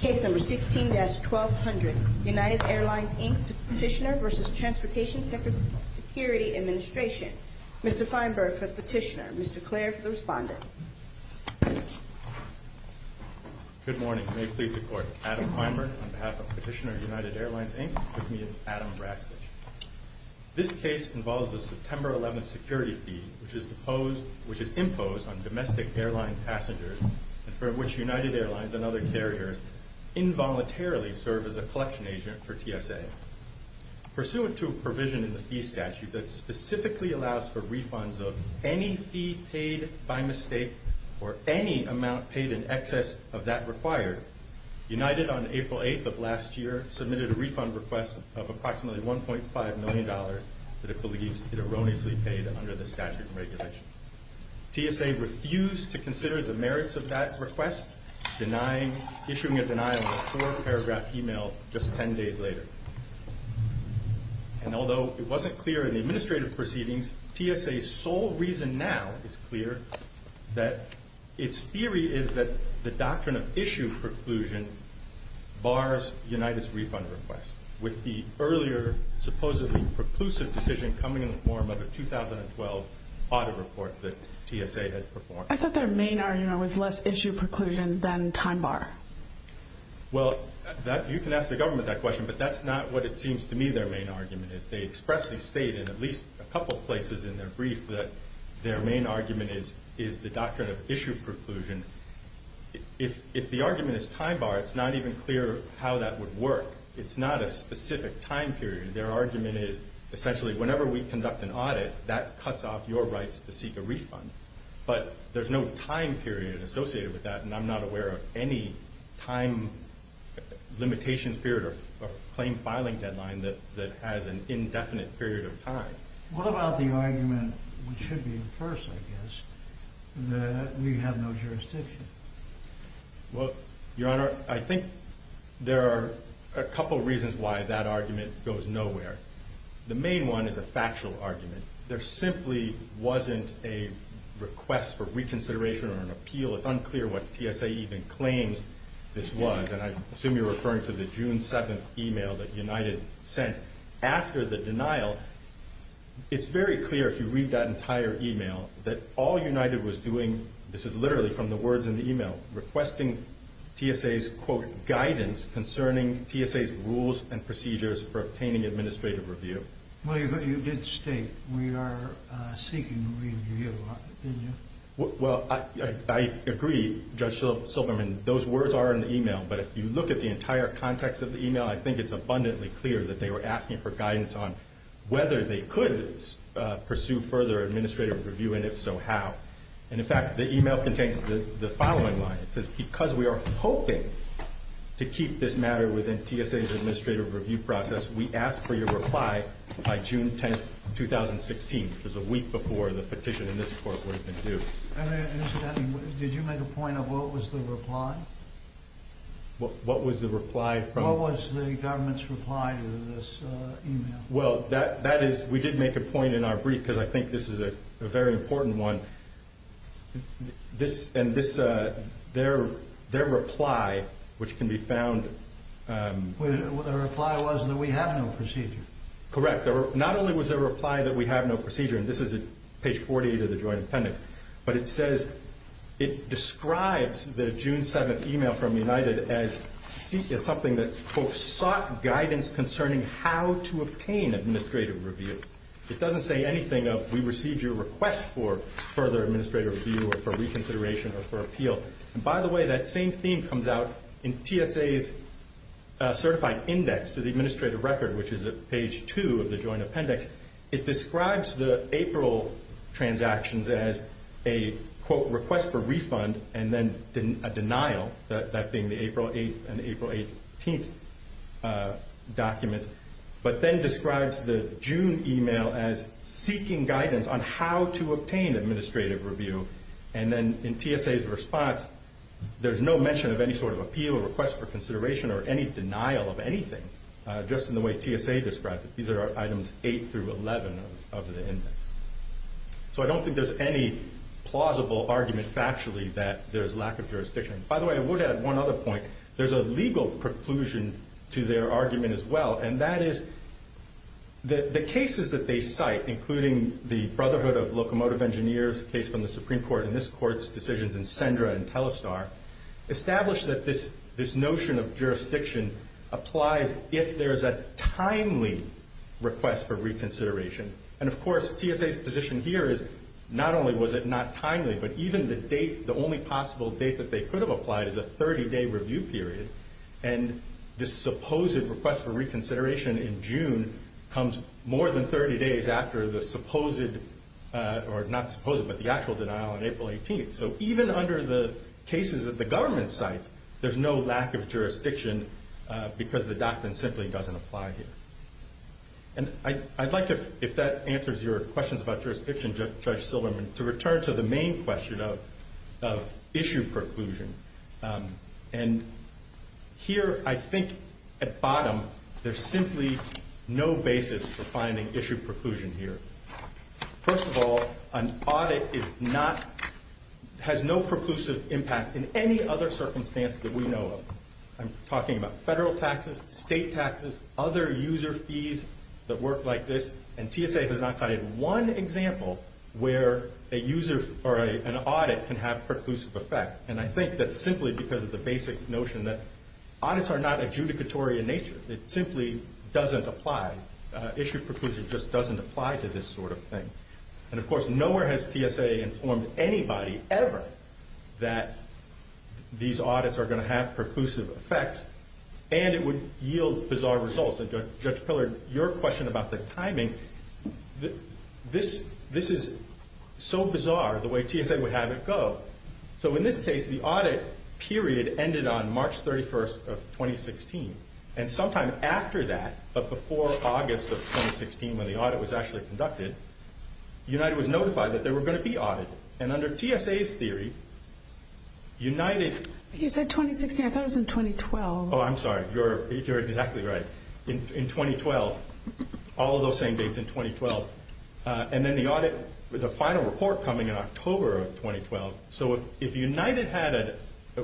Case No. 16-1200 United Airlines, Inc. Petitioner v. Transportation Security Administration Mr. Feinberg for Petitioner, Mr. Clare for the Respondent Good morning. May it please the Court. Adam Feinberg on behalf of Petitioner, United Airlines, Inc. with me and Adam Brastic. This case involves a September 11th security fee which is imposed on domestic airline passengers and for which United Airlines and other carriers involuntarily serve as a collection agent for TSA. Pursuant to a provision in the fee statute that specifically allows for refunds of any fee paid by mistake or any amount paid in excess of that required, United on April 8th of last year submitted a refund request of approximately $1.5 million that it erroneously paid under the statute and regulations. TSA refused to consider the merits of that request, issuing a denial in a four-paragraph email just ten days later. And although it wasn't clear in the administrative proceedings, TSA's sole reason now is clear that its theory is that the doctrine of issue preclusion bars United's refund request, with the earlier supposedly preclusive decision coming in the form of a 2012 audit report that TSA had performed. I thought their main argument was less issue preclusion than time bar. Well, you can ask the government that question, but that's not what it seems to me their main argument is. They expressly state in at least a couple places in their brief that their main argument is the doctrine of issue preclusion. If the argument is time bar, it's not even clear how that would work. It's not a specific time period. Their argument is essentially whenever we conduct an audit, that cuts off your rights to seek a refund. But there's no time period associated with that, and I'm not aware of any time limitations period or claim filing deadline that has an indefinite period of time. What about the argument, which should be the first, I guess, that we have no jurisdiction? Well, Your Honor, I think there are a couple reasons why that argument goes nowhere. The main one is a factual argument. There simply wasn't a request for reconsideration or an appeal. It's unclear what TSA even claims this was, and I assume you're referring to the June 7th email that United sent after the denial. It's very clear, if you read that entire email, that all United was doing, this is literally from the words in the email, requesting TSA's, quote, guidance concerning TSA's rules and procedures for obtaining administrative review. Well, you did state we are seeking review, didn't you? Well, I agree, Judge Silverman. Those words are in the email, but if you look at the entire context of the email, I think it's abundantly clear that they were asking for guidance on whether they could pursue further administrative review, and if so, how. And, in fact, the email contains the following line. It says, because we are hoping to keep this matter within TSA's administrative review process, we ask for your reply by June 10th, 2016, which is a week before the petition in this court would have been due. Did you make a point of what was the reply? What was the reply from? What was the government's reply to this email? Well, that is, we did make a point in our brief, because I think this is a very important one. This, and this, their reply, which can be found. The reply was that we have no procedure. Correct. Not only was there a reply that we have no procedure, and this is at page 48 of the joint appendix, but it says, it describes the June 7th email from United as something that, quote, sought guidance concerning how to obtain administrative review. It doesn't say anything of, we received your request for further administrative review, or for reconsideration, or for appeal. And, by the way, that same theme comes out in TSA's certified index to the administrative record, which is at page 2 of the joint appendix. It describes the April transactions as a, quote, request for refund, and then a denial, that being the April 8th and April 18th documents, but then describes the June email as seeking guidance on how to obtain administrative review. And then in TSA's response, there's no mention of any sort of appeal, request for consideration, or any denial of anything, just in the way TSA described it. These are items 8 through 11 of the index. So I don't think there's any plausible argument factually that there's lack of jurisdiction. By the way, I would add one other point. There's a legal preclusion to their argument as well, and that is the cases that they cite, including the Brotherhood of Locomotive Engineers case from the Supreme Court, and this court's decisions in Sendra and Telestar, establish that this notion of jurisdiction applies if there is a timely request for reconsideration. And, of course, TSA's position here is not only was it not timely, but even the only possible date that they could have applied is a 30-day review period, and this supposed request for reconsideration in June comes more than 30 days after the actual denial on April 18th. So even under the cases that the government cites, there's no lack of jurisdiction because the doctrine simply doesn't apply here. And I'd like to, if that answers your questions about jurisdiction, Judge Silverman, to return to the main question of issue preclusion. And here I think at bottom there's simply no basis for finding issue preclusion here. First of all, an audit has no preclusive impact in any other circumstance that we know of. I'm talking about federal taxes, state taxes, other user fees that work like this, and TSA has not cited one example where a user or an audit can have preclusive effect. And I think that's simply because of the basic notion that audits are not adjudicatory in nature. It simply doesn't apply. Issue preclusion just doesn't apply to this sort of thing. And, of course, nowhere has TSA informed anybody ever that these audits are going to have preclusive effects and it would yield bizarre results. And Judge Pillard, your question about the timing, this is so bizarre the way TSA would have it go. So in this case, the audit period ended on March 31st of 2016, and sometime after that, but before August of 2016 when the audit was actually conducted, United was notified that there were going to be audits. And under TSA's theory, United... You said 2016. I thought it was in 2012. Oh, I'm sorry. You're exactly right. In 2012, all of those same dates in 2012. So if United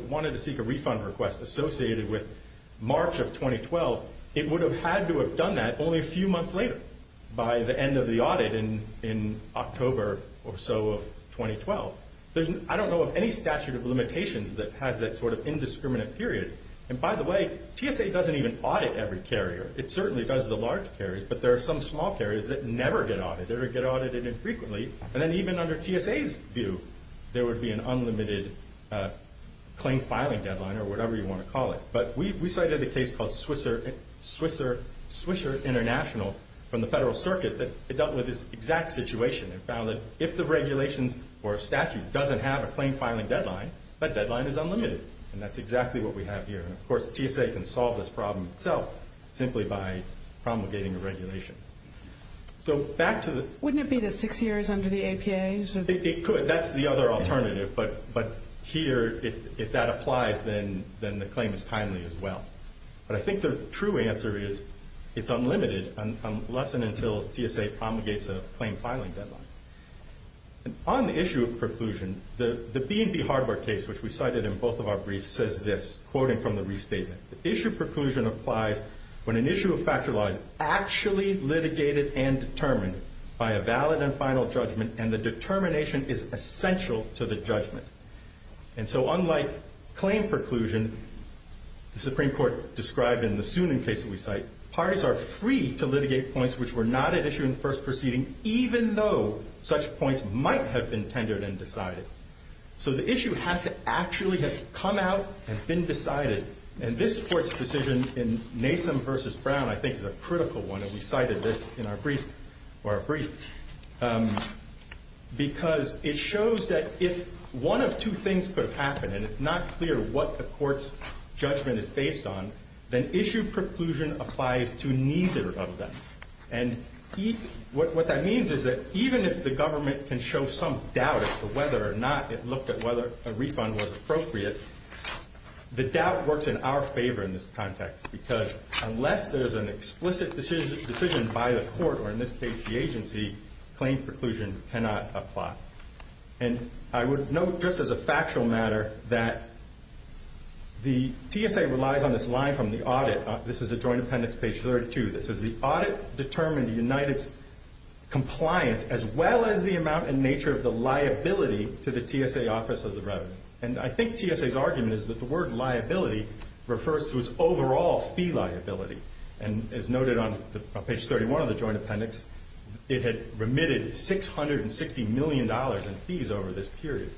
wanted to seek a refund request associated with March of 2012, it would have had to have done that only a few months later, by the end of the audit in October or so of 2012. I don't know of any statute of limitations that has that sort of indiscriminate period. And, by the way, TSA doesn't even audit every carrier. It certainly does the large carriers, but there are some small carriers that never get audited or get audited infrequently. And then even under TSA's view, there would be an unlimited claim filing deadline or whatever you want to call it. But we cited a case called Swisher International from the Federal Circuit that dealt with this exact situation and found that if the regulations or statute doesn't have a claim filing deadline, that deadline is unlimited. And that's exactly what we have here. And, of course, TSA can solve this problem itself simply by promulgating a regulation. So back to the... Wouldn't it be the six years under the APA? It could. That's the other alternative. But here, if that applies, then the claim is timely as well. But I think the true answer is it's unlimited unless and until TSA promulgates a claim filing deadline. On the issue of preclusion, the B&B hardware case, which we cited in both of our briefs, says this, quoting from the restatement, the issue of preclusion applies when an issue of factor law is actually litigated and determined by a valid and final judgment and the determination is essential to the judgment. And so unlike claim preclusion, the Supreme Court described in the Soonen case that we cite, parties are free to litigate points which were not at issue in the first proceeding even though such points might have been tendered and decided. So the issue has to actually have come out and been decided. And this Court's decision in Nasum v. Brown, I think, is a critical one, and we cited this in our brief because it shows that if one of two things could have happened and it's not clear what the Court's judgment is based on, then issue preclusion applies to neither of them. And what that means is that even if the government can show some doubt as to whether or not it looked at whether a refund was appropriate, the doubt works in our favor in this context because unless there's an explicit decision by the Court, or in this case the agency, claim preclusion cannot apply. And I would note, just as a factual matter, that the TSA relies on this line from the audit. This is at Joint Appendix page 32. This says, the audit determined the United's compliance as well as the amount and nature of the liability to the TSA Office of the Revenue. And I think TSA's argument is that the word liability refers to its overall fee liability. And as noted on page 31 of the Joint Appendix, it had remitted $660 million in fees over this period.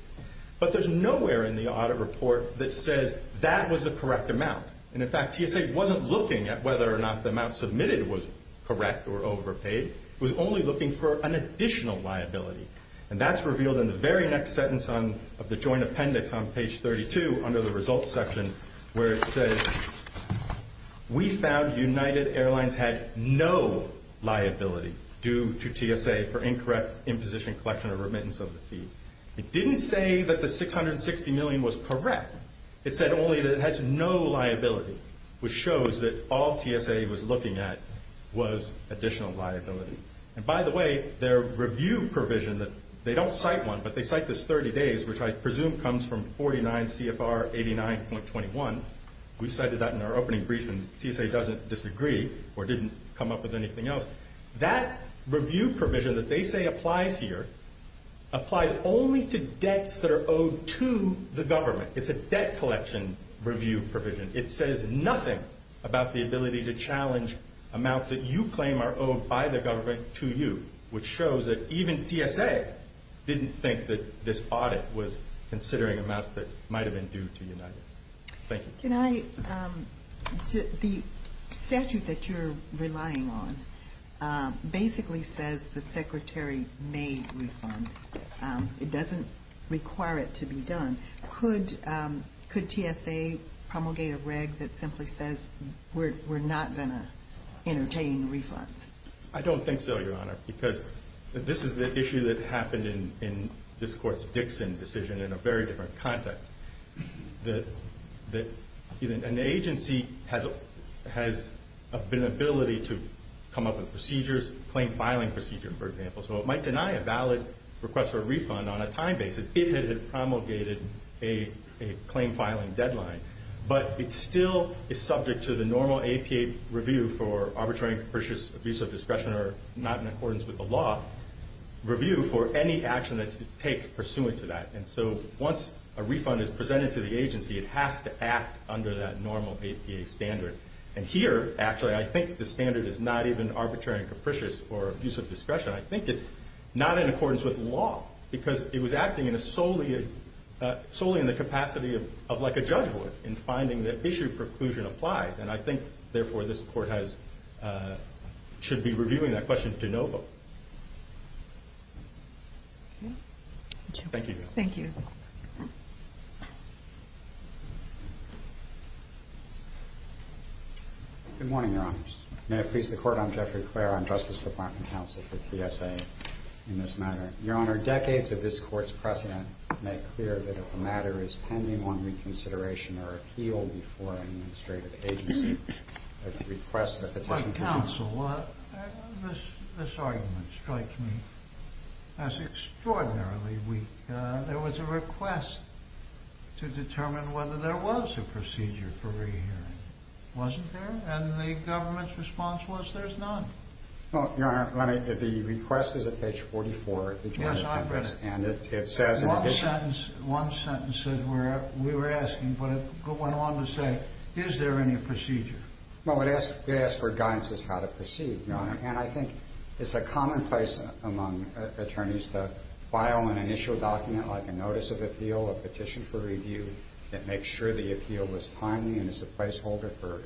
But there's nowhere in the audit report that says that was the correct amount. And, in fact, TSA wasn't looking at whether or not the amount submitted was correct or overpaid. It was only looking for an additional liability. And that's revealed in the very next sentence of the Joint Appendix on page 32 under the results section where it says, we found United Airlines had no liability due to TSA for incorrect imposition, collection, or remittance of the fee. It didn't say that the $660 million was correct. It said only that it has no liability, which shows that all TSA was looking at was additional liability. And, by the way, their review provision, they don't cite one, but they cite this 30 days, which I presume comes from 49 CFR 89.21. We cited that in our opening briefing. TSA doesn't disagree or didn't come up with anything else. That review provision that they say applies here applies only to debts that are owed to the government. It's a debt collection review provision. It says nothing about the ability to challenge amounts that you claim are owed by the government to you, which shows that even TSA didn't think that this audit was considering amounts that might have been due to United. Thank you. The statute that you're relying on basically says the Secretary may refund. It doesn't require it to be done. Could TSA promulgate a reg that simply says we're not going to entertain refunds? I don't think so, Your Honor, because this is the issue that happened in this Court's Dixon decision in a very different context. An agency has an ability to come up with procedures, claim filing procedures, for example, so it might deny a valid request for a refund on a time basis if it had promulgated a claim filing deadline. But it still is subject to the normal APA review for arbitrary and capricious abuse of discretion, or not in accordance with the law, review for any action that it takes pursuant to that. And so once a refund is presented to the agency, it has to act under that normal APA standard. And here, actually, I think the standard is not even arbitrary and capricious or abuse of discretion. I think it's not in accordance with law because it was acting solely in the capacity of like a judge would in finding that issue of preclusion applied. And I think, therefore, this Court should be reviewing that question de novo. Thank you. Thank you. Good morning, Your Honors. May it please the Court. I'm Jeffrey Clare. I'm Justice Department counsel for PSA in this matter. Your Honor, decades of this Court's precedent make clear that if a matter is pending on reconsideration or appeal before an administrative agency that it requests that the petition be reviewed. My counsel, this argument strikes me as extraordinarily weak. There was a request to determine whether there was a procedure for rehearing. Wasn't there? And the government's response was there's none. Well, Your Honor, the request is at page 44. Yes, I've read it. And it says in addition. One sentence that we were asking, but it went on to say, is there any procedure? Well, it asks for guidance as to how to proceed, Your Honor. And I think it's a commonplace among attorneys to file an initial document like a notice of appeal, a petition for review that makes sure the appeal was timely and is a placeholder for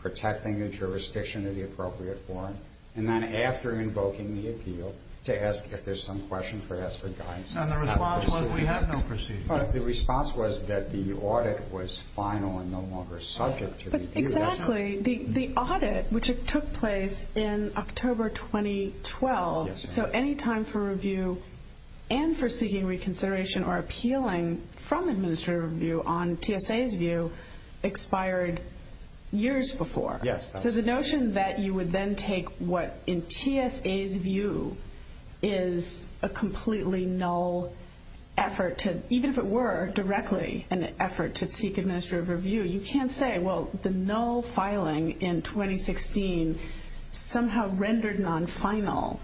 protecting the jurisdiction of the appropriate form, and then after invoking the appeal to ask if there's some question for us for guidance. And the response was we have no procedure. The response was that the audit was final and no longer subject to review. Exactly. The audit, which took place in October 2012, so any time for review and for seeking reconsideration or appealing from administrative review on TSA's view expired years before. Yes. So the notion that you would then take what in TSA's view is a completely null effort to, even if it were directly an effort to seek administrative review, you can't say, well, the null filing in 2016 somehow rendered non-final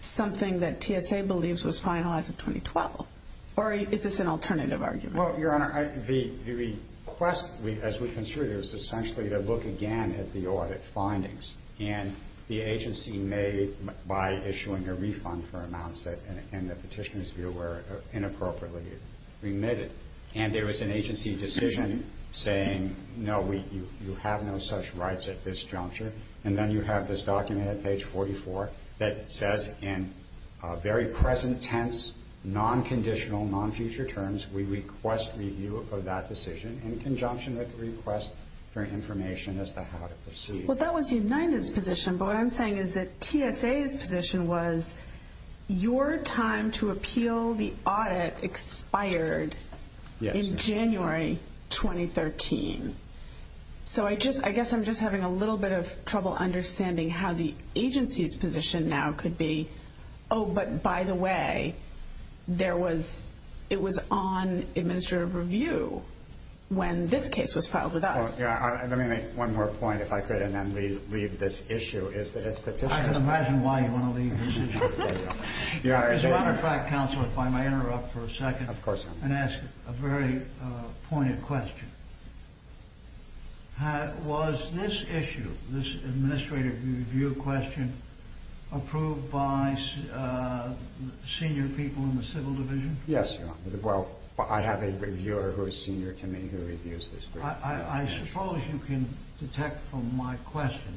something that TSA believes was final as of 2012. Or is this an alternative argument? Well, Your Honor, the request, as we considered it, was essentially to look again at the audit findings. And the agency made by issuing a refund for amounts that, in the petitioner's view, were inappropriately remitted. And there was an agency decision saying, no, you have no such rights at this juncture. And then you have this document at page 44 that says in very present tense, non-conditional, non-future terms, we request review of that decision in conjunction with the request for information as to how to proceed. Well, that was United's position. But what I'm saying is that TSA's position was, your time to appeal the audit expired in January 2013. So I guess I'm just having a little bit of trouble understanding how the agency's position now could be, oh, but by the way, it was on administrative review when this case was filed with us. Let me make one more point, if I could, and then leave this issue. I can imagine why you want to leave this issue. As a matter of fact, counsel, if I may interrupt for a second and ask a very pointed question. Was this issue, this administrative review question, approved by senior people in the civil division? Yes, Your Honor. Well, I have a reviewer who is senior to me who reviews this. I suppose you can detect from my question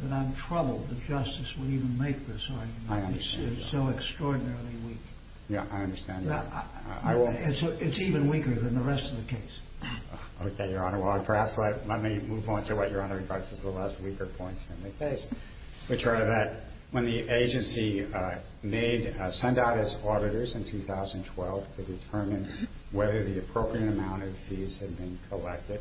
that I'm troubled that justice would even make this argument. I understand, Your Honor. It's so extraordinarily weak. Yeah, I understand that. It's even weaker than the rest of the case. Okay, Your Honor. Well, perhaps let me move on to what Your Honor regards as the less weaker points in the case. Your Honor, when the agency sent out its auditors in 2012 to determine whether the appropriate amount of fees had been collected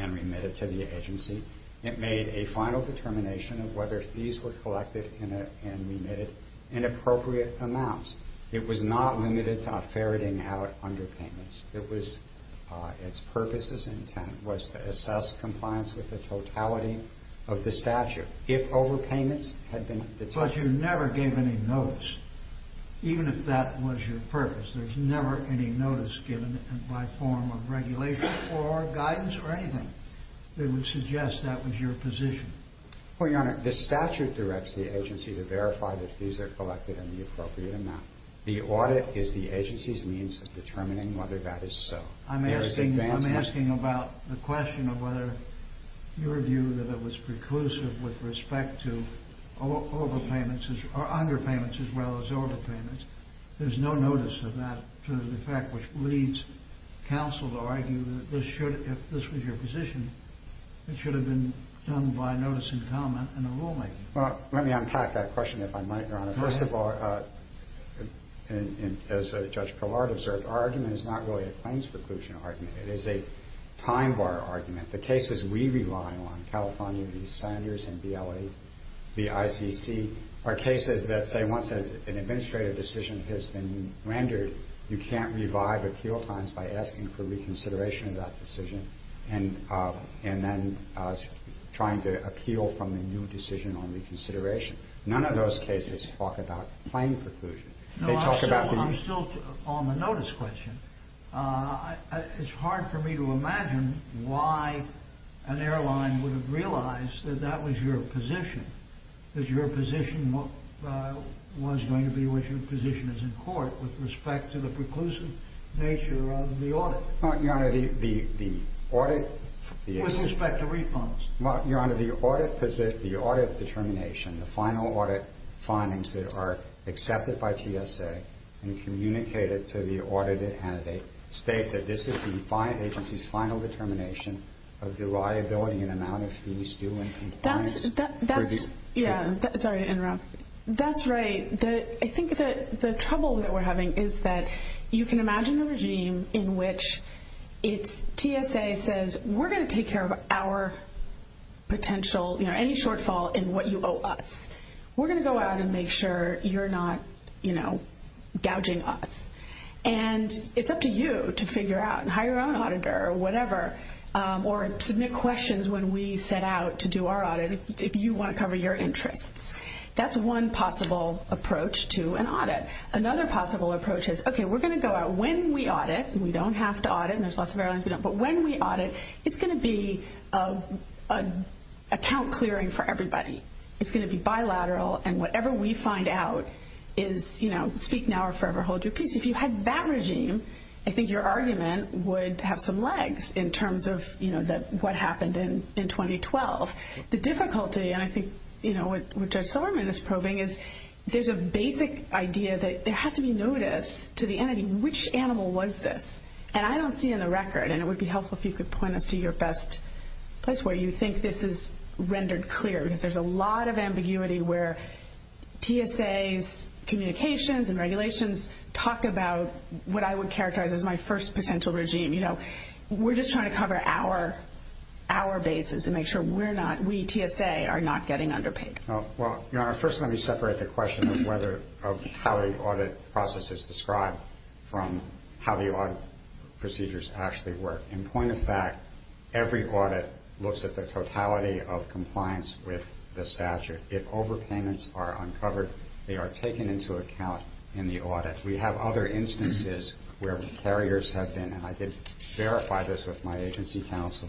and remitted to the agency, it made a final determination of whether fees were collected and remitted in appropriate amounts. It was not limited to ferreting out underpayments. It was its purpose, its intent was to assess compliance with the totality of the statute. If overpayments had been detected. But you never gave any notice, even if that was your purpose. There's never any notice given by form of regulation or guidance or anything that would suggest that was your position. Well, Your Honor, the statute directs the agency to verify that fees are collected in the appropriate amount. The audit is the agency's means of determining whether that is so. I'm asking about the question of whether your view that it was preclusive with respect to underpayments as well as overpayments. There's no notice of that to the effect which leads counsel to argue that this should, if this was your position, it should have been done by notice and comment in the rulemaking. Well, let me unpack that question if I might, Your Honor. First of all, as Judge Perlard observed, our argument is not really a claims preclusion argument. It is a time-bar argument. The cases we rely on, California v. Sanders and B.L.A., B.I.C.C., are cases that say once an administrative decision has been rendered, you can't revive appeal times by asking for reconsideration of that decision and then trying to appeal from a new decision on reconsideration. None of those cases talk about claim preclusion. No, I'm still on the notice question. It's hard for me to imagine why an airline would have realized that that was your position, that your position was going to be what your position is in court with respect to the preclusive nature of the audit. Well, Your Honor, the audit... With respect to refunds. Well, Your Honor, the audit determination, the final audit findings that are accepted by TSA and communicated to the audited candidate state that this is the agency's final determination of the liability and amount of fees due in compliance. That's... Yeah, sorry to interrupt. That's right. I think the trouble that we're having is that you can imagine a regime in which it's TSA says, we're going to take care of our potential, you know, any shortfall in what you owe us. We're going to go out and make sure you're not, you know, gouging us. And it's up to you to figure out and hire your own auditor or whatever or submit questions when we set out to do our audit if you want to cover your interests. That's one possible approach to an audit. Another possible approach is, okay, we're going to go out when we audit, and we don't have to audit and there's lots of airlines we don't, but when we audit, it's going to be account clearing for everybody. It's going to be bilateral, and whatever we find out is, you know, speak now or forever hold your peace. If you had that regime, I think your argument would have some legs in terms of, you know, what happened in 2012. The difficulty, and I think, you know, what Judge Silverman is probing is there's a basic idea that there has to be notice to the entity, which animal was this? And I don't see in the record, and it would be helpful if you could point us to your best place where you think this is rendered clear because there's a lot of ambiguity where TSA's communications and regulations talk about what I would characterize as my first potential regime. You know, we're just trying to cover our bases and make sure we're not, we, TSA, are not getting underpaid. Well, Your Honor, first let me separate the question of how the audit process is described from how the audit procedures actually work. In point of fact, every audit looks at the totality of compliance with the statute. If overpayments are uncovered, they are taken into account in the audit. We have other instances where carriers have been, and I did verify this with my agency counsel,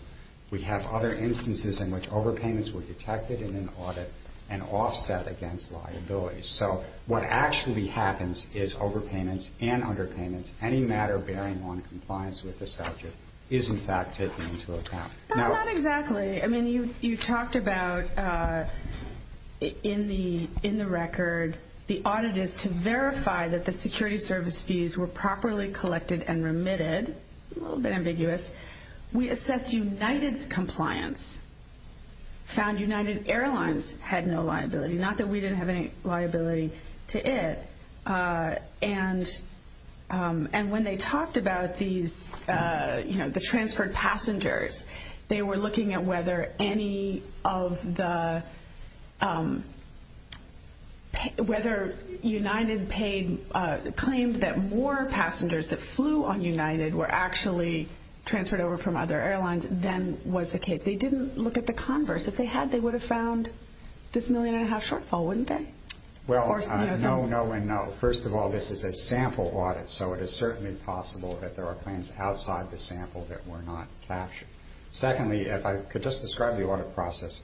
we have other instances in which overpayments were detected in an audit and offset against liabilities. So what actually happens is overpayments and underpayments, any matter bearing on compliance with the statute, is in fact taken into account. Not exactly. I mean, you talked about in the record the audit is to verify that the security service fees were properly collected and remitted, a little bit ambiguous. We assessed United's compliance, found United Airlines had no liability, not that we didn't have any liability to it. And when they talked about these, you know, the transferred passengers, they were looking at whether any of the, whether United paid, claimed that more passengers that flew on United were actually transferred over from other airlines than was the case. They didn't look at the converse. If they had, they would have found this million and a half shortfall, wouldn't they? Well, no, no, and no. First of all, this is a sample audit, so it is certainly possible that there are planes outside the sample that were not captured. Secondly, if I could just describe the audit process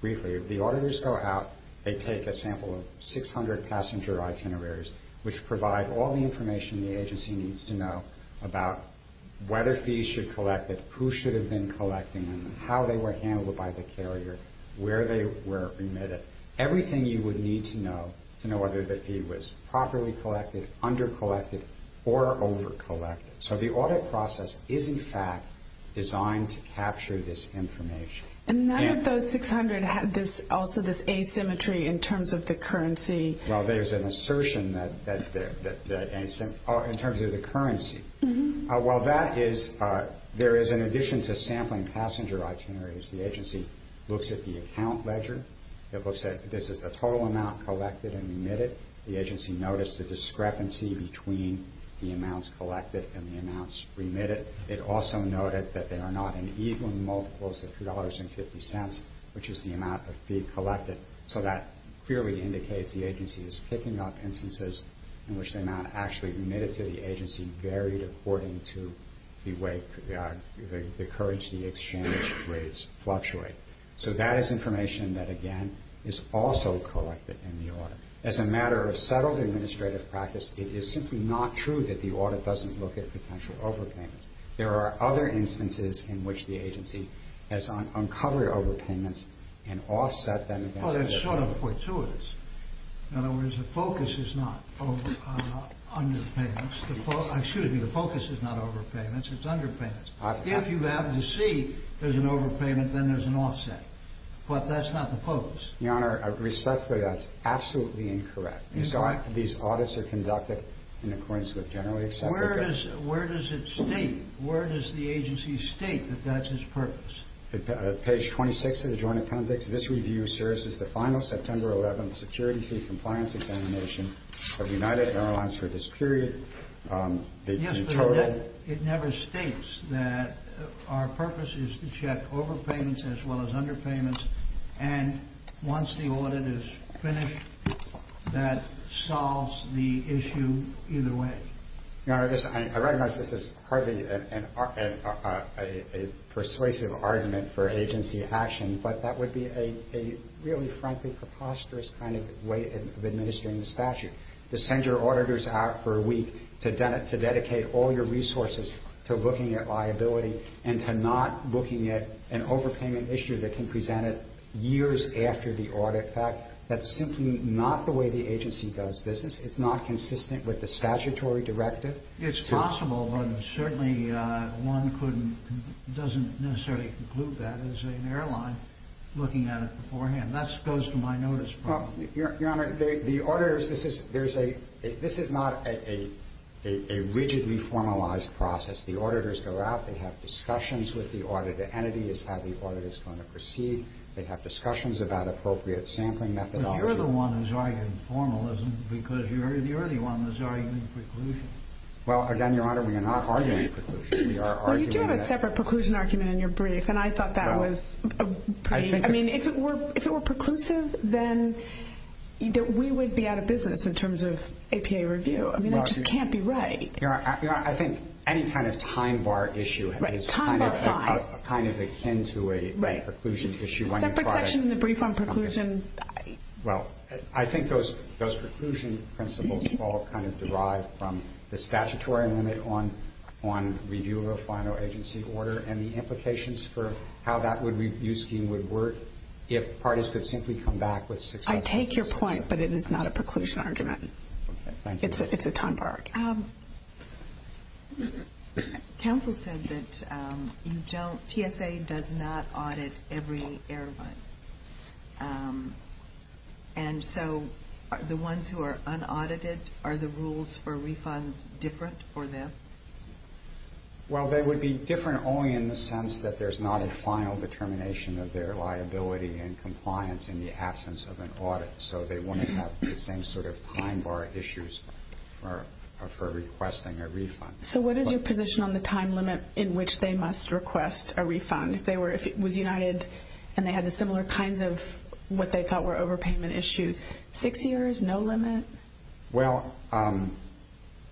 briefly. The auditors go out, they take a sample of 600 passenger itineraries, which provide all the information the agency needs to know about whether fees should collect it, who should have been collecting them, how they were handled by the carrier, where they were remitted. Everything you would need to know to know whether the fee was properly collected, under collected, or over collected. So the audit process is, in fact, designed to capture this information. And none of those 600 had also this asymmetry in terms of the currency? Well, there's an assertion in terms of the currency. While that is, there is, in addition to sampling passenger itineraries, the agency looks at the account ledger. It looks at, this is the total amount collected and remitted. The agency noticed a discrepancy between the amounts collected and the amounts remitted. It also noted that there are not an even multiples of $2.50, which is the amount of fee collected. So that clearly indicates the agency is picking up instances in which the amount actually remitted to the agency varied according to the way the currency exchange rates fluctuate. So that is information that, again, is also collected in the audit. As a matter of settled administrative practice, it is simply not true that the audit doesn't look at potential overpayments. There are other instances in which the agency has uncovered overpayments and offset them against that. Well, that's sort of fortuitous. In other words, the focus is not underpayments. Excuse me, the focus is not overpayments. It's underpayments. If you happen to see there's an overpayment, then there's an offset. But that's not the focus. Your Honor, respectfully, that's absolutely incorrect. Your Honor, these audits are conducted in accordance with General Expenditure. Where does it state? Where does the agency state that that's its purpose? Page 26 of the Joint Appendix. This review asserts it's the final September 11th security fee compliance examination of United Airlines for this period. Yes, but it never states that our purpose is to check overpayments as well as underpayments. And once the audit is finished, that solves the issue either way. Your Honor, I recognize this is hardly a persuasive argument for agency action, but that would be a really, frankly, preposterous kind of way of administering the statute. To send your auditors out for a week to dedicate all your resources to looking at liability and to not looking at an overpayment issue that can present it years after the audit fact, that's simply not the way the agency does business. It's not consistent with the statutory directive. It's possible, but certainly one doesn't necessarily conclude that as an airline looking at it beforehand. That goes to my notice problem. Your Honor, the auditors, this is not a rigidly formalized process. The auditors go out, they have discussions with the audit entity as to how the audit is going to proceed. They have discussions about appropriate sampling methodology. But you're the one who's arguing formalism because you're the one who's arguing preclusion. Well, again, Your Honor, we are not arguing preclusion. We are arguing that. Well, you do have a separate preclusion argument in your brief, and I thought that was pretty. I mean, if it were preclusive, then we would be out of business in terms of APA review. I mean, it just can't be right. Your Honor, I think any kind of time bar issue is kind of akin to a preclusion issue. Separate section in the brief on preclusion. Well, I think those preclusion principles all kind of derive from the statutory limit on review of a final agency order and the implications for how that review scheme would work if parties could simply come back with successful decisions. I take your point, but it is not a preclusion argument. Okay. Thank you. It's a time bar. Counsel said that TSA does not audit every airline. And so the ones who are unaudited, are the rules for refunds different for them? Well, they would be different only in the sense that there's not a final determination So they wouldn't have the same sort of time bar issues for requesting a refund. So what is your position on the time limit in which they must request a refund? If it was united and they had the similar kinds of what they thought were overpayment issues, six years, no limit? Well,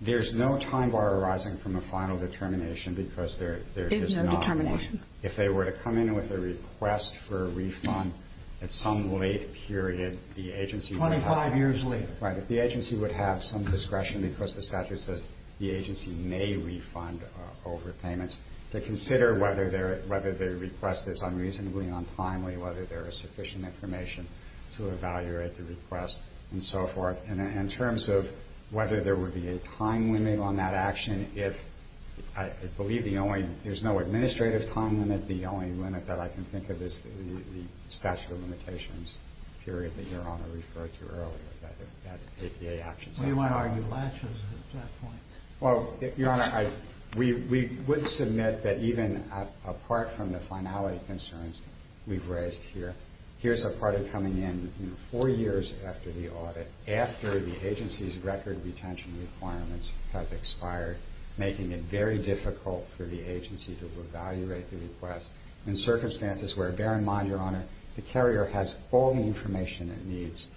there's no time bar arising from a final determination because there is not one. If they were to come in with a request for a refund, at some late period, the agency would have... Twenty-five years later. Right. If the agency would have some discretion because the statute says the agency may refund overpayments, to consider whether their request is unreasonably untimely, whether there is sufficient information to evaluate the request, and so forth. In terms of whether there would be a time limit on that action, I believe there's no administrative time limit. It isn't the only limit that I can think of. It's the statute of limitations period that Your Honor referred to earlier, that APA actions... We might argue latches at that point. Well, Your Honor, we would submit that even apart from the finality concerns we've raised here, here's a party coming in four years after the audit, after the agency's record retention requirements have expired, making it very difficult for the agency to evaluate the request in circumstances where, bear in mind, Your Honor, the carrier has all the information it needs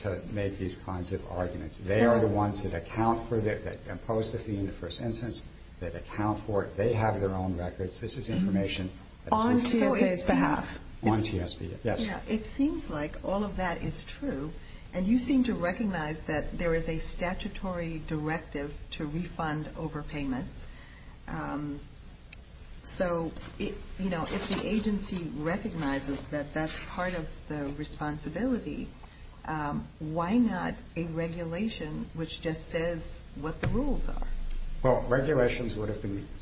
to make these kinds of arguments. They are the ones that account for it, that impose the fee in the first instance, that account for it. They have their own records. This is information that's on TSA's behalf. On TSA's behalf. Yes. It seems like all of that is true, and you seem to recognize that there is a statutory directive to refund overpayments. So, you know, if the agency recognizes that that's part of the responsibility, why not a regulation which just says what the rules are? Well, regulations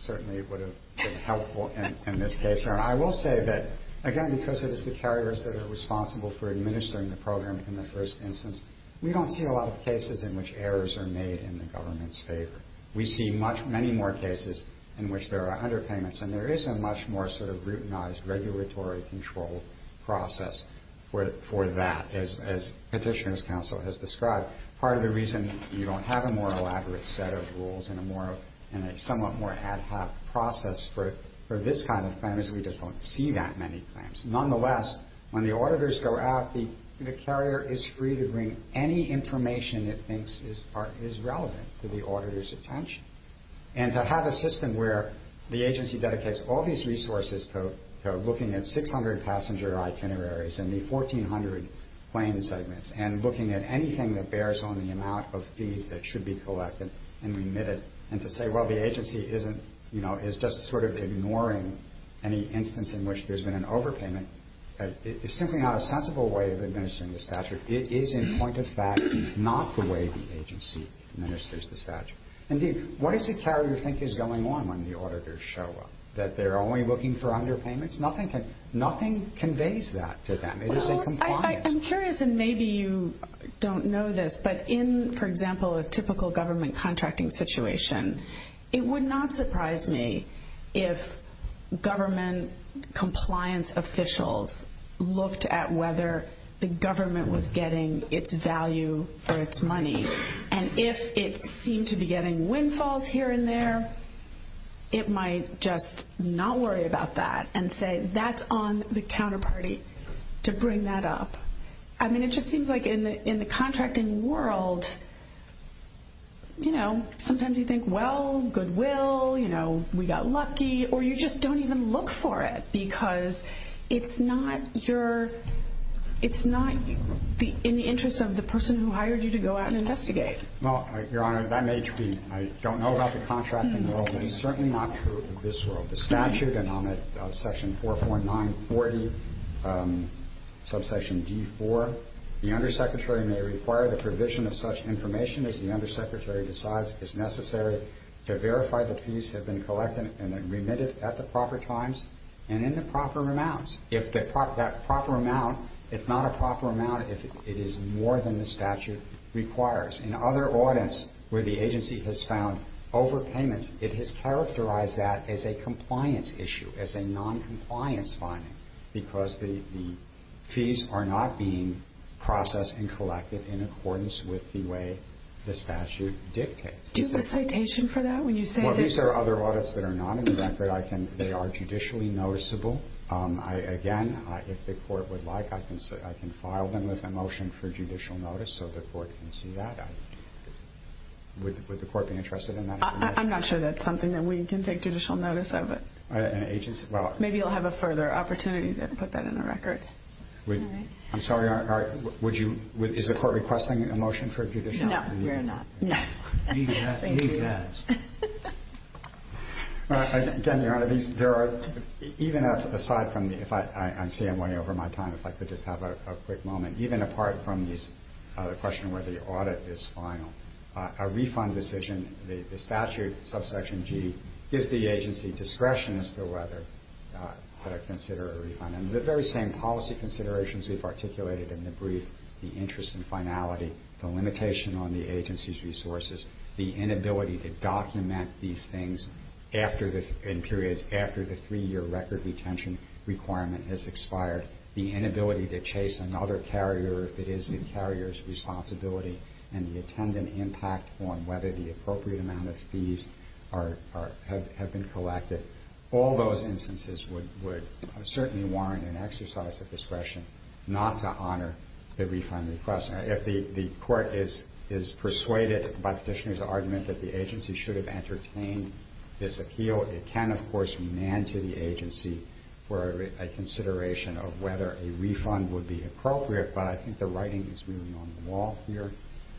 certainly would have been helpful in this case. Your Honor, I will say that, again, because it is the carriers that are responsible for administering the program in the first instance, we don't see a lot of cases in which errors are made in the government's favor. We see many more cases in which there are underpayments, and there is a much more sort of routinized, regulatory-controlled process for that. As Petitioner's Counsel has described, part of the reason you don't have a more elaborate set of rules and a somewhat more ad hoc process for this kind of thing is we just don't see that many claims. Nonetheless, when the auditors go out, the carrier is free to bring any information it thinks is relevant to the auditor's attention. And to have a system where the agency dedicates all these resources to looking at 600 passenger itineraries and the 1,400 plane segments and looking at anything that bears on the amount of fees that should be collected and remitted, and to say, well, the agency is just sort of ignoring any instance in which there's been an overpayment, is simply not a sensible way of administering the statute. It is, in point of fact, not the way the agency administers the statute. Indeed, what does the carrier think is going on when the auditors show up? That they're only looking for underpayments? Nothing conveys that to them. It is a component. Well, I'm curious, and maybe you don't know this, but in, for example, a typical government contracting situation, it would not surprise me if government compliance officials looked at whether the government was getting its value for its money. And if it seemed to be getting windfalls here and there, it might just not worry about that and say, that's on the counterparty to bring that up. I mean, it just seems like in the contracting world, you know, sometimes you think, well, goodwill, you know, we got lucky, or you just don't even look for it because it's not in the interest of the person who hired you to go out and investigate. Well, Your Honor, that may be. I don't know about the contracting world, but it's certainly not true in this world. The statute and on that section 44940, subsection D4, the undersecretary may require the provision of such information as the undersecretary decides is necessary to verify that fees have been collected and remitted at the proper times and in the proper amounts. If that proper amount, it's not a proper amount if it is more than the statute requires. In other audits where the agency has found overpayments, it has characterized that as a compliance issue, as a noncompliance finding, because the fees are not being processed and collected in accordance with the way the statute dictates. Do you have a citation for that when you say that? Well, these are other audits that are not in the record. They are judicially noticeable. Again, if the court would like, I can file them with a motion for judicial notice so the court can see that. Would the court be interested in that? I'm not sure that's something that we can take judicial notice of. Maybe you'll have a further opportunity to put that in the record. I'm sorry. Is the court requesting a motion for judicial notice? No, we're not. Leave that. Again, Your Honor, aside from me, I'm saying I'm running over my time. If I could just have a quick moment. Even apart from the question of whether the audit is final, a refund decision, the statute, subsection G, gives the agency discretion as to whether to consider a refund. And the very same policy considerations we've articulated in the brief, the interest and finality, the limitation on the agency's resources, the inability to document these things in periods after the three-year record retention requirement has expired, the inability to chase another carrier if it is the carrier's responsibility, and the attendant impact on whether the appropriate amount of fees have been collected, all those instances would certainly warrant an exercise of discretion not to honor the refund request. If the court is persuaded by Petitioner's argument that the agency should have entertained this appeal, it can, of course, man to the agency for a consideration of whether a refund would be appropriate, but I think the writing is really on the wall here.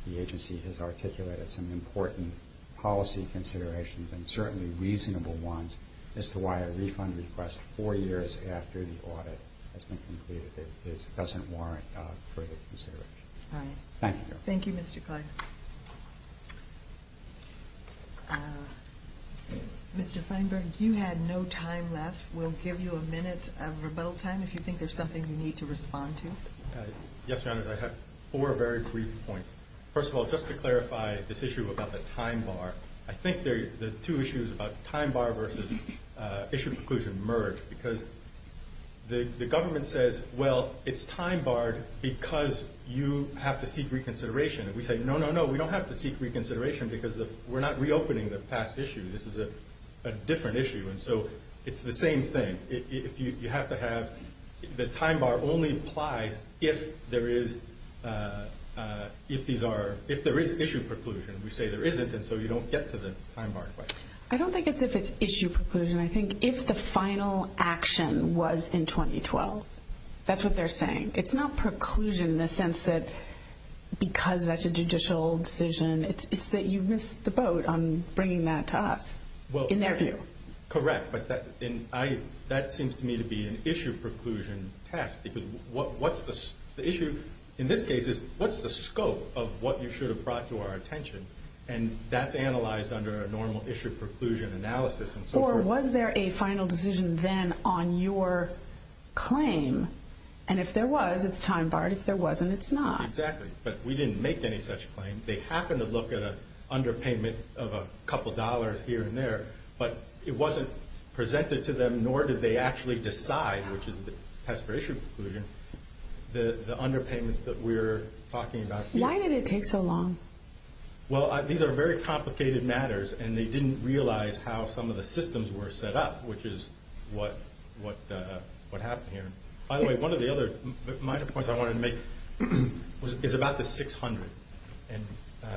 The agency has articulated some important policy considerations and certainly reasonable ones as to why a refund request four years after the audit has been completed doesn't warrant further consideration. Thank you. Thank you, Mr. Clyde. Mr. Feinberg, you had no time left. We'll give you a minute of rebuttal time if you think there's something you need to respond to. Yes, Your Honors. I have four very brief points. First of all, just to clarify this issue about the time bar, I think the two issues about time bar versus issue of conclusion merge because the government says, well, it's time barred because you have to seek reconsideration. We say, no, no, no, we don't have to seek reconsideration because we're not reopening the past issue. This is a different issue, and so it's the same thing. You have to have the time bar only applies if there is issue preclusion. We say there isn't, and so you don't get to the time bar question. I don't think it's if it's issue preclusion. I think if the final action was in 2012, that's what they're saying. It's not preclusion in the sense that because that's a judicial decision, it's that you missed the boat on bringing that to us in their view. Correct, but that seems to me to be an issue preclusion test because the issue in this case is what's the scope of what you should have brought to our attention, and that's analyzed under a normal issue preclusion analysis and so forth. So was there a final decision then on your claim? And if there was, it's time barred. If there wasn't, it's not. Exactly, but we didn't make any such claim. They happened to look at an underpayment of a couple dollars here and there, but it wasn't presented to them, nor did they actually decide, which is the past for issue preclusion, the underpayments that we're talking about here. Why did it take so long? Well, these are very complicated matters, and they didn't realize how some of the systems were set up, which is what happened here. By the way, one of the other minor points I wanted to make is about the 600. And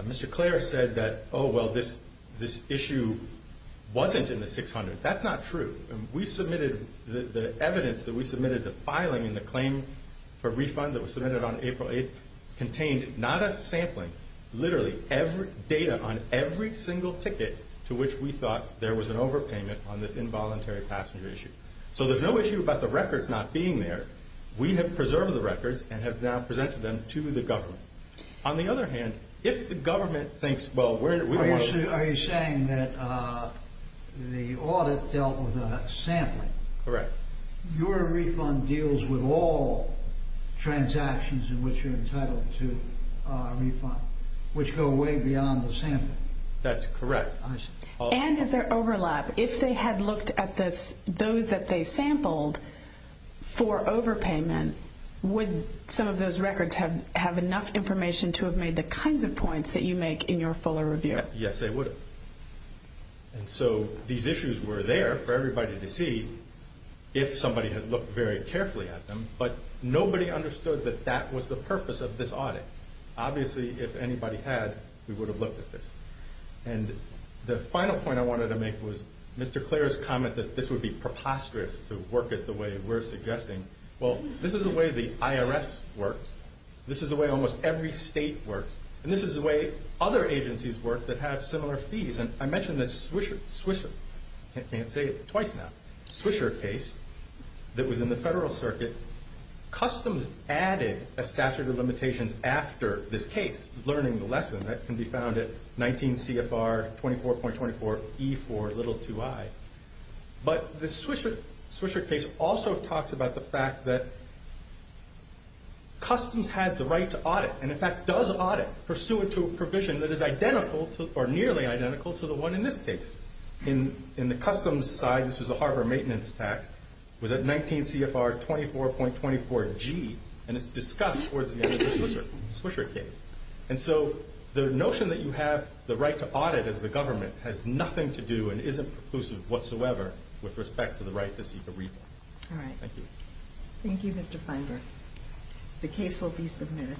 Mr. Clare said that, oh, well, this issue wasn't in the 600. That's not true. We submitted the evidence that we submitted the filing in the claim for refund that was submitted on April 8th contained not a sampling, literally data on every single ticket to which we thought there was an overpayment on this involuntary passenger issue. So there's no issue about the records not being there. We have preserved the records and have now presented them to the government. On the other hand, if the government thinks, well, we want to- Are you saying that the audit dealt with a sampling? Correct. Your refund deals with all transactions in which you're entitled to a refund, which go way beyond the sampling. That's correct. And is there overlap? If they had looked at those that they sampled for overpayment, would some of those records have enough information to have made the kinds of points that you make in your fuller review? Yes, they would have. And so these issues were there for everybody to see if somebody had looked very carefully at them, but nobody understood that that was the purpose of this audit. Obviously, if anybody had, we would have looked at this. And the final point I wanted to make was Mr. Clare's comment that this would be preposterous to work it the way we're suggesting. Well, this is the way the IRS works. This is the way almost every state works. And this is the way other agencies work that have similar fees. And I mentioned the Swisher case that was in the federal circuit. Customs added a statute of limitations after this case, learning the lesson. That can be found at 19 CFR 24.24E4-2I. But the Swisher case also talks about the fact that customs has the right to audit, and in fact does audit pursuant to a provision that is identical or nearly identical to the one in this case. In the customs side, this was a harbor maintenance tax. It was at 19 CFR 24.24G, and it's discussed towards the end of the Swisher case. And so the notion that you have the right to audit as the government has nothing to do and isn't preclusive whatsoever with respect to the right to seek a refund. All right. Thank you. Thank you, Mr. Feinberg. The case will be submitted.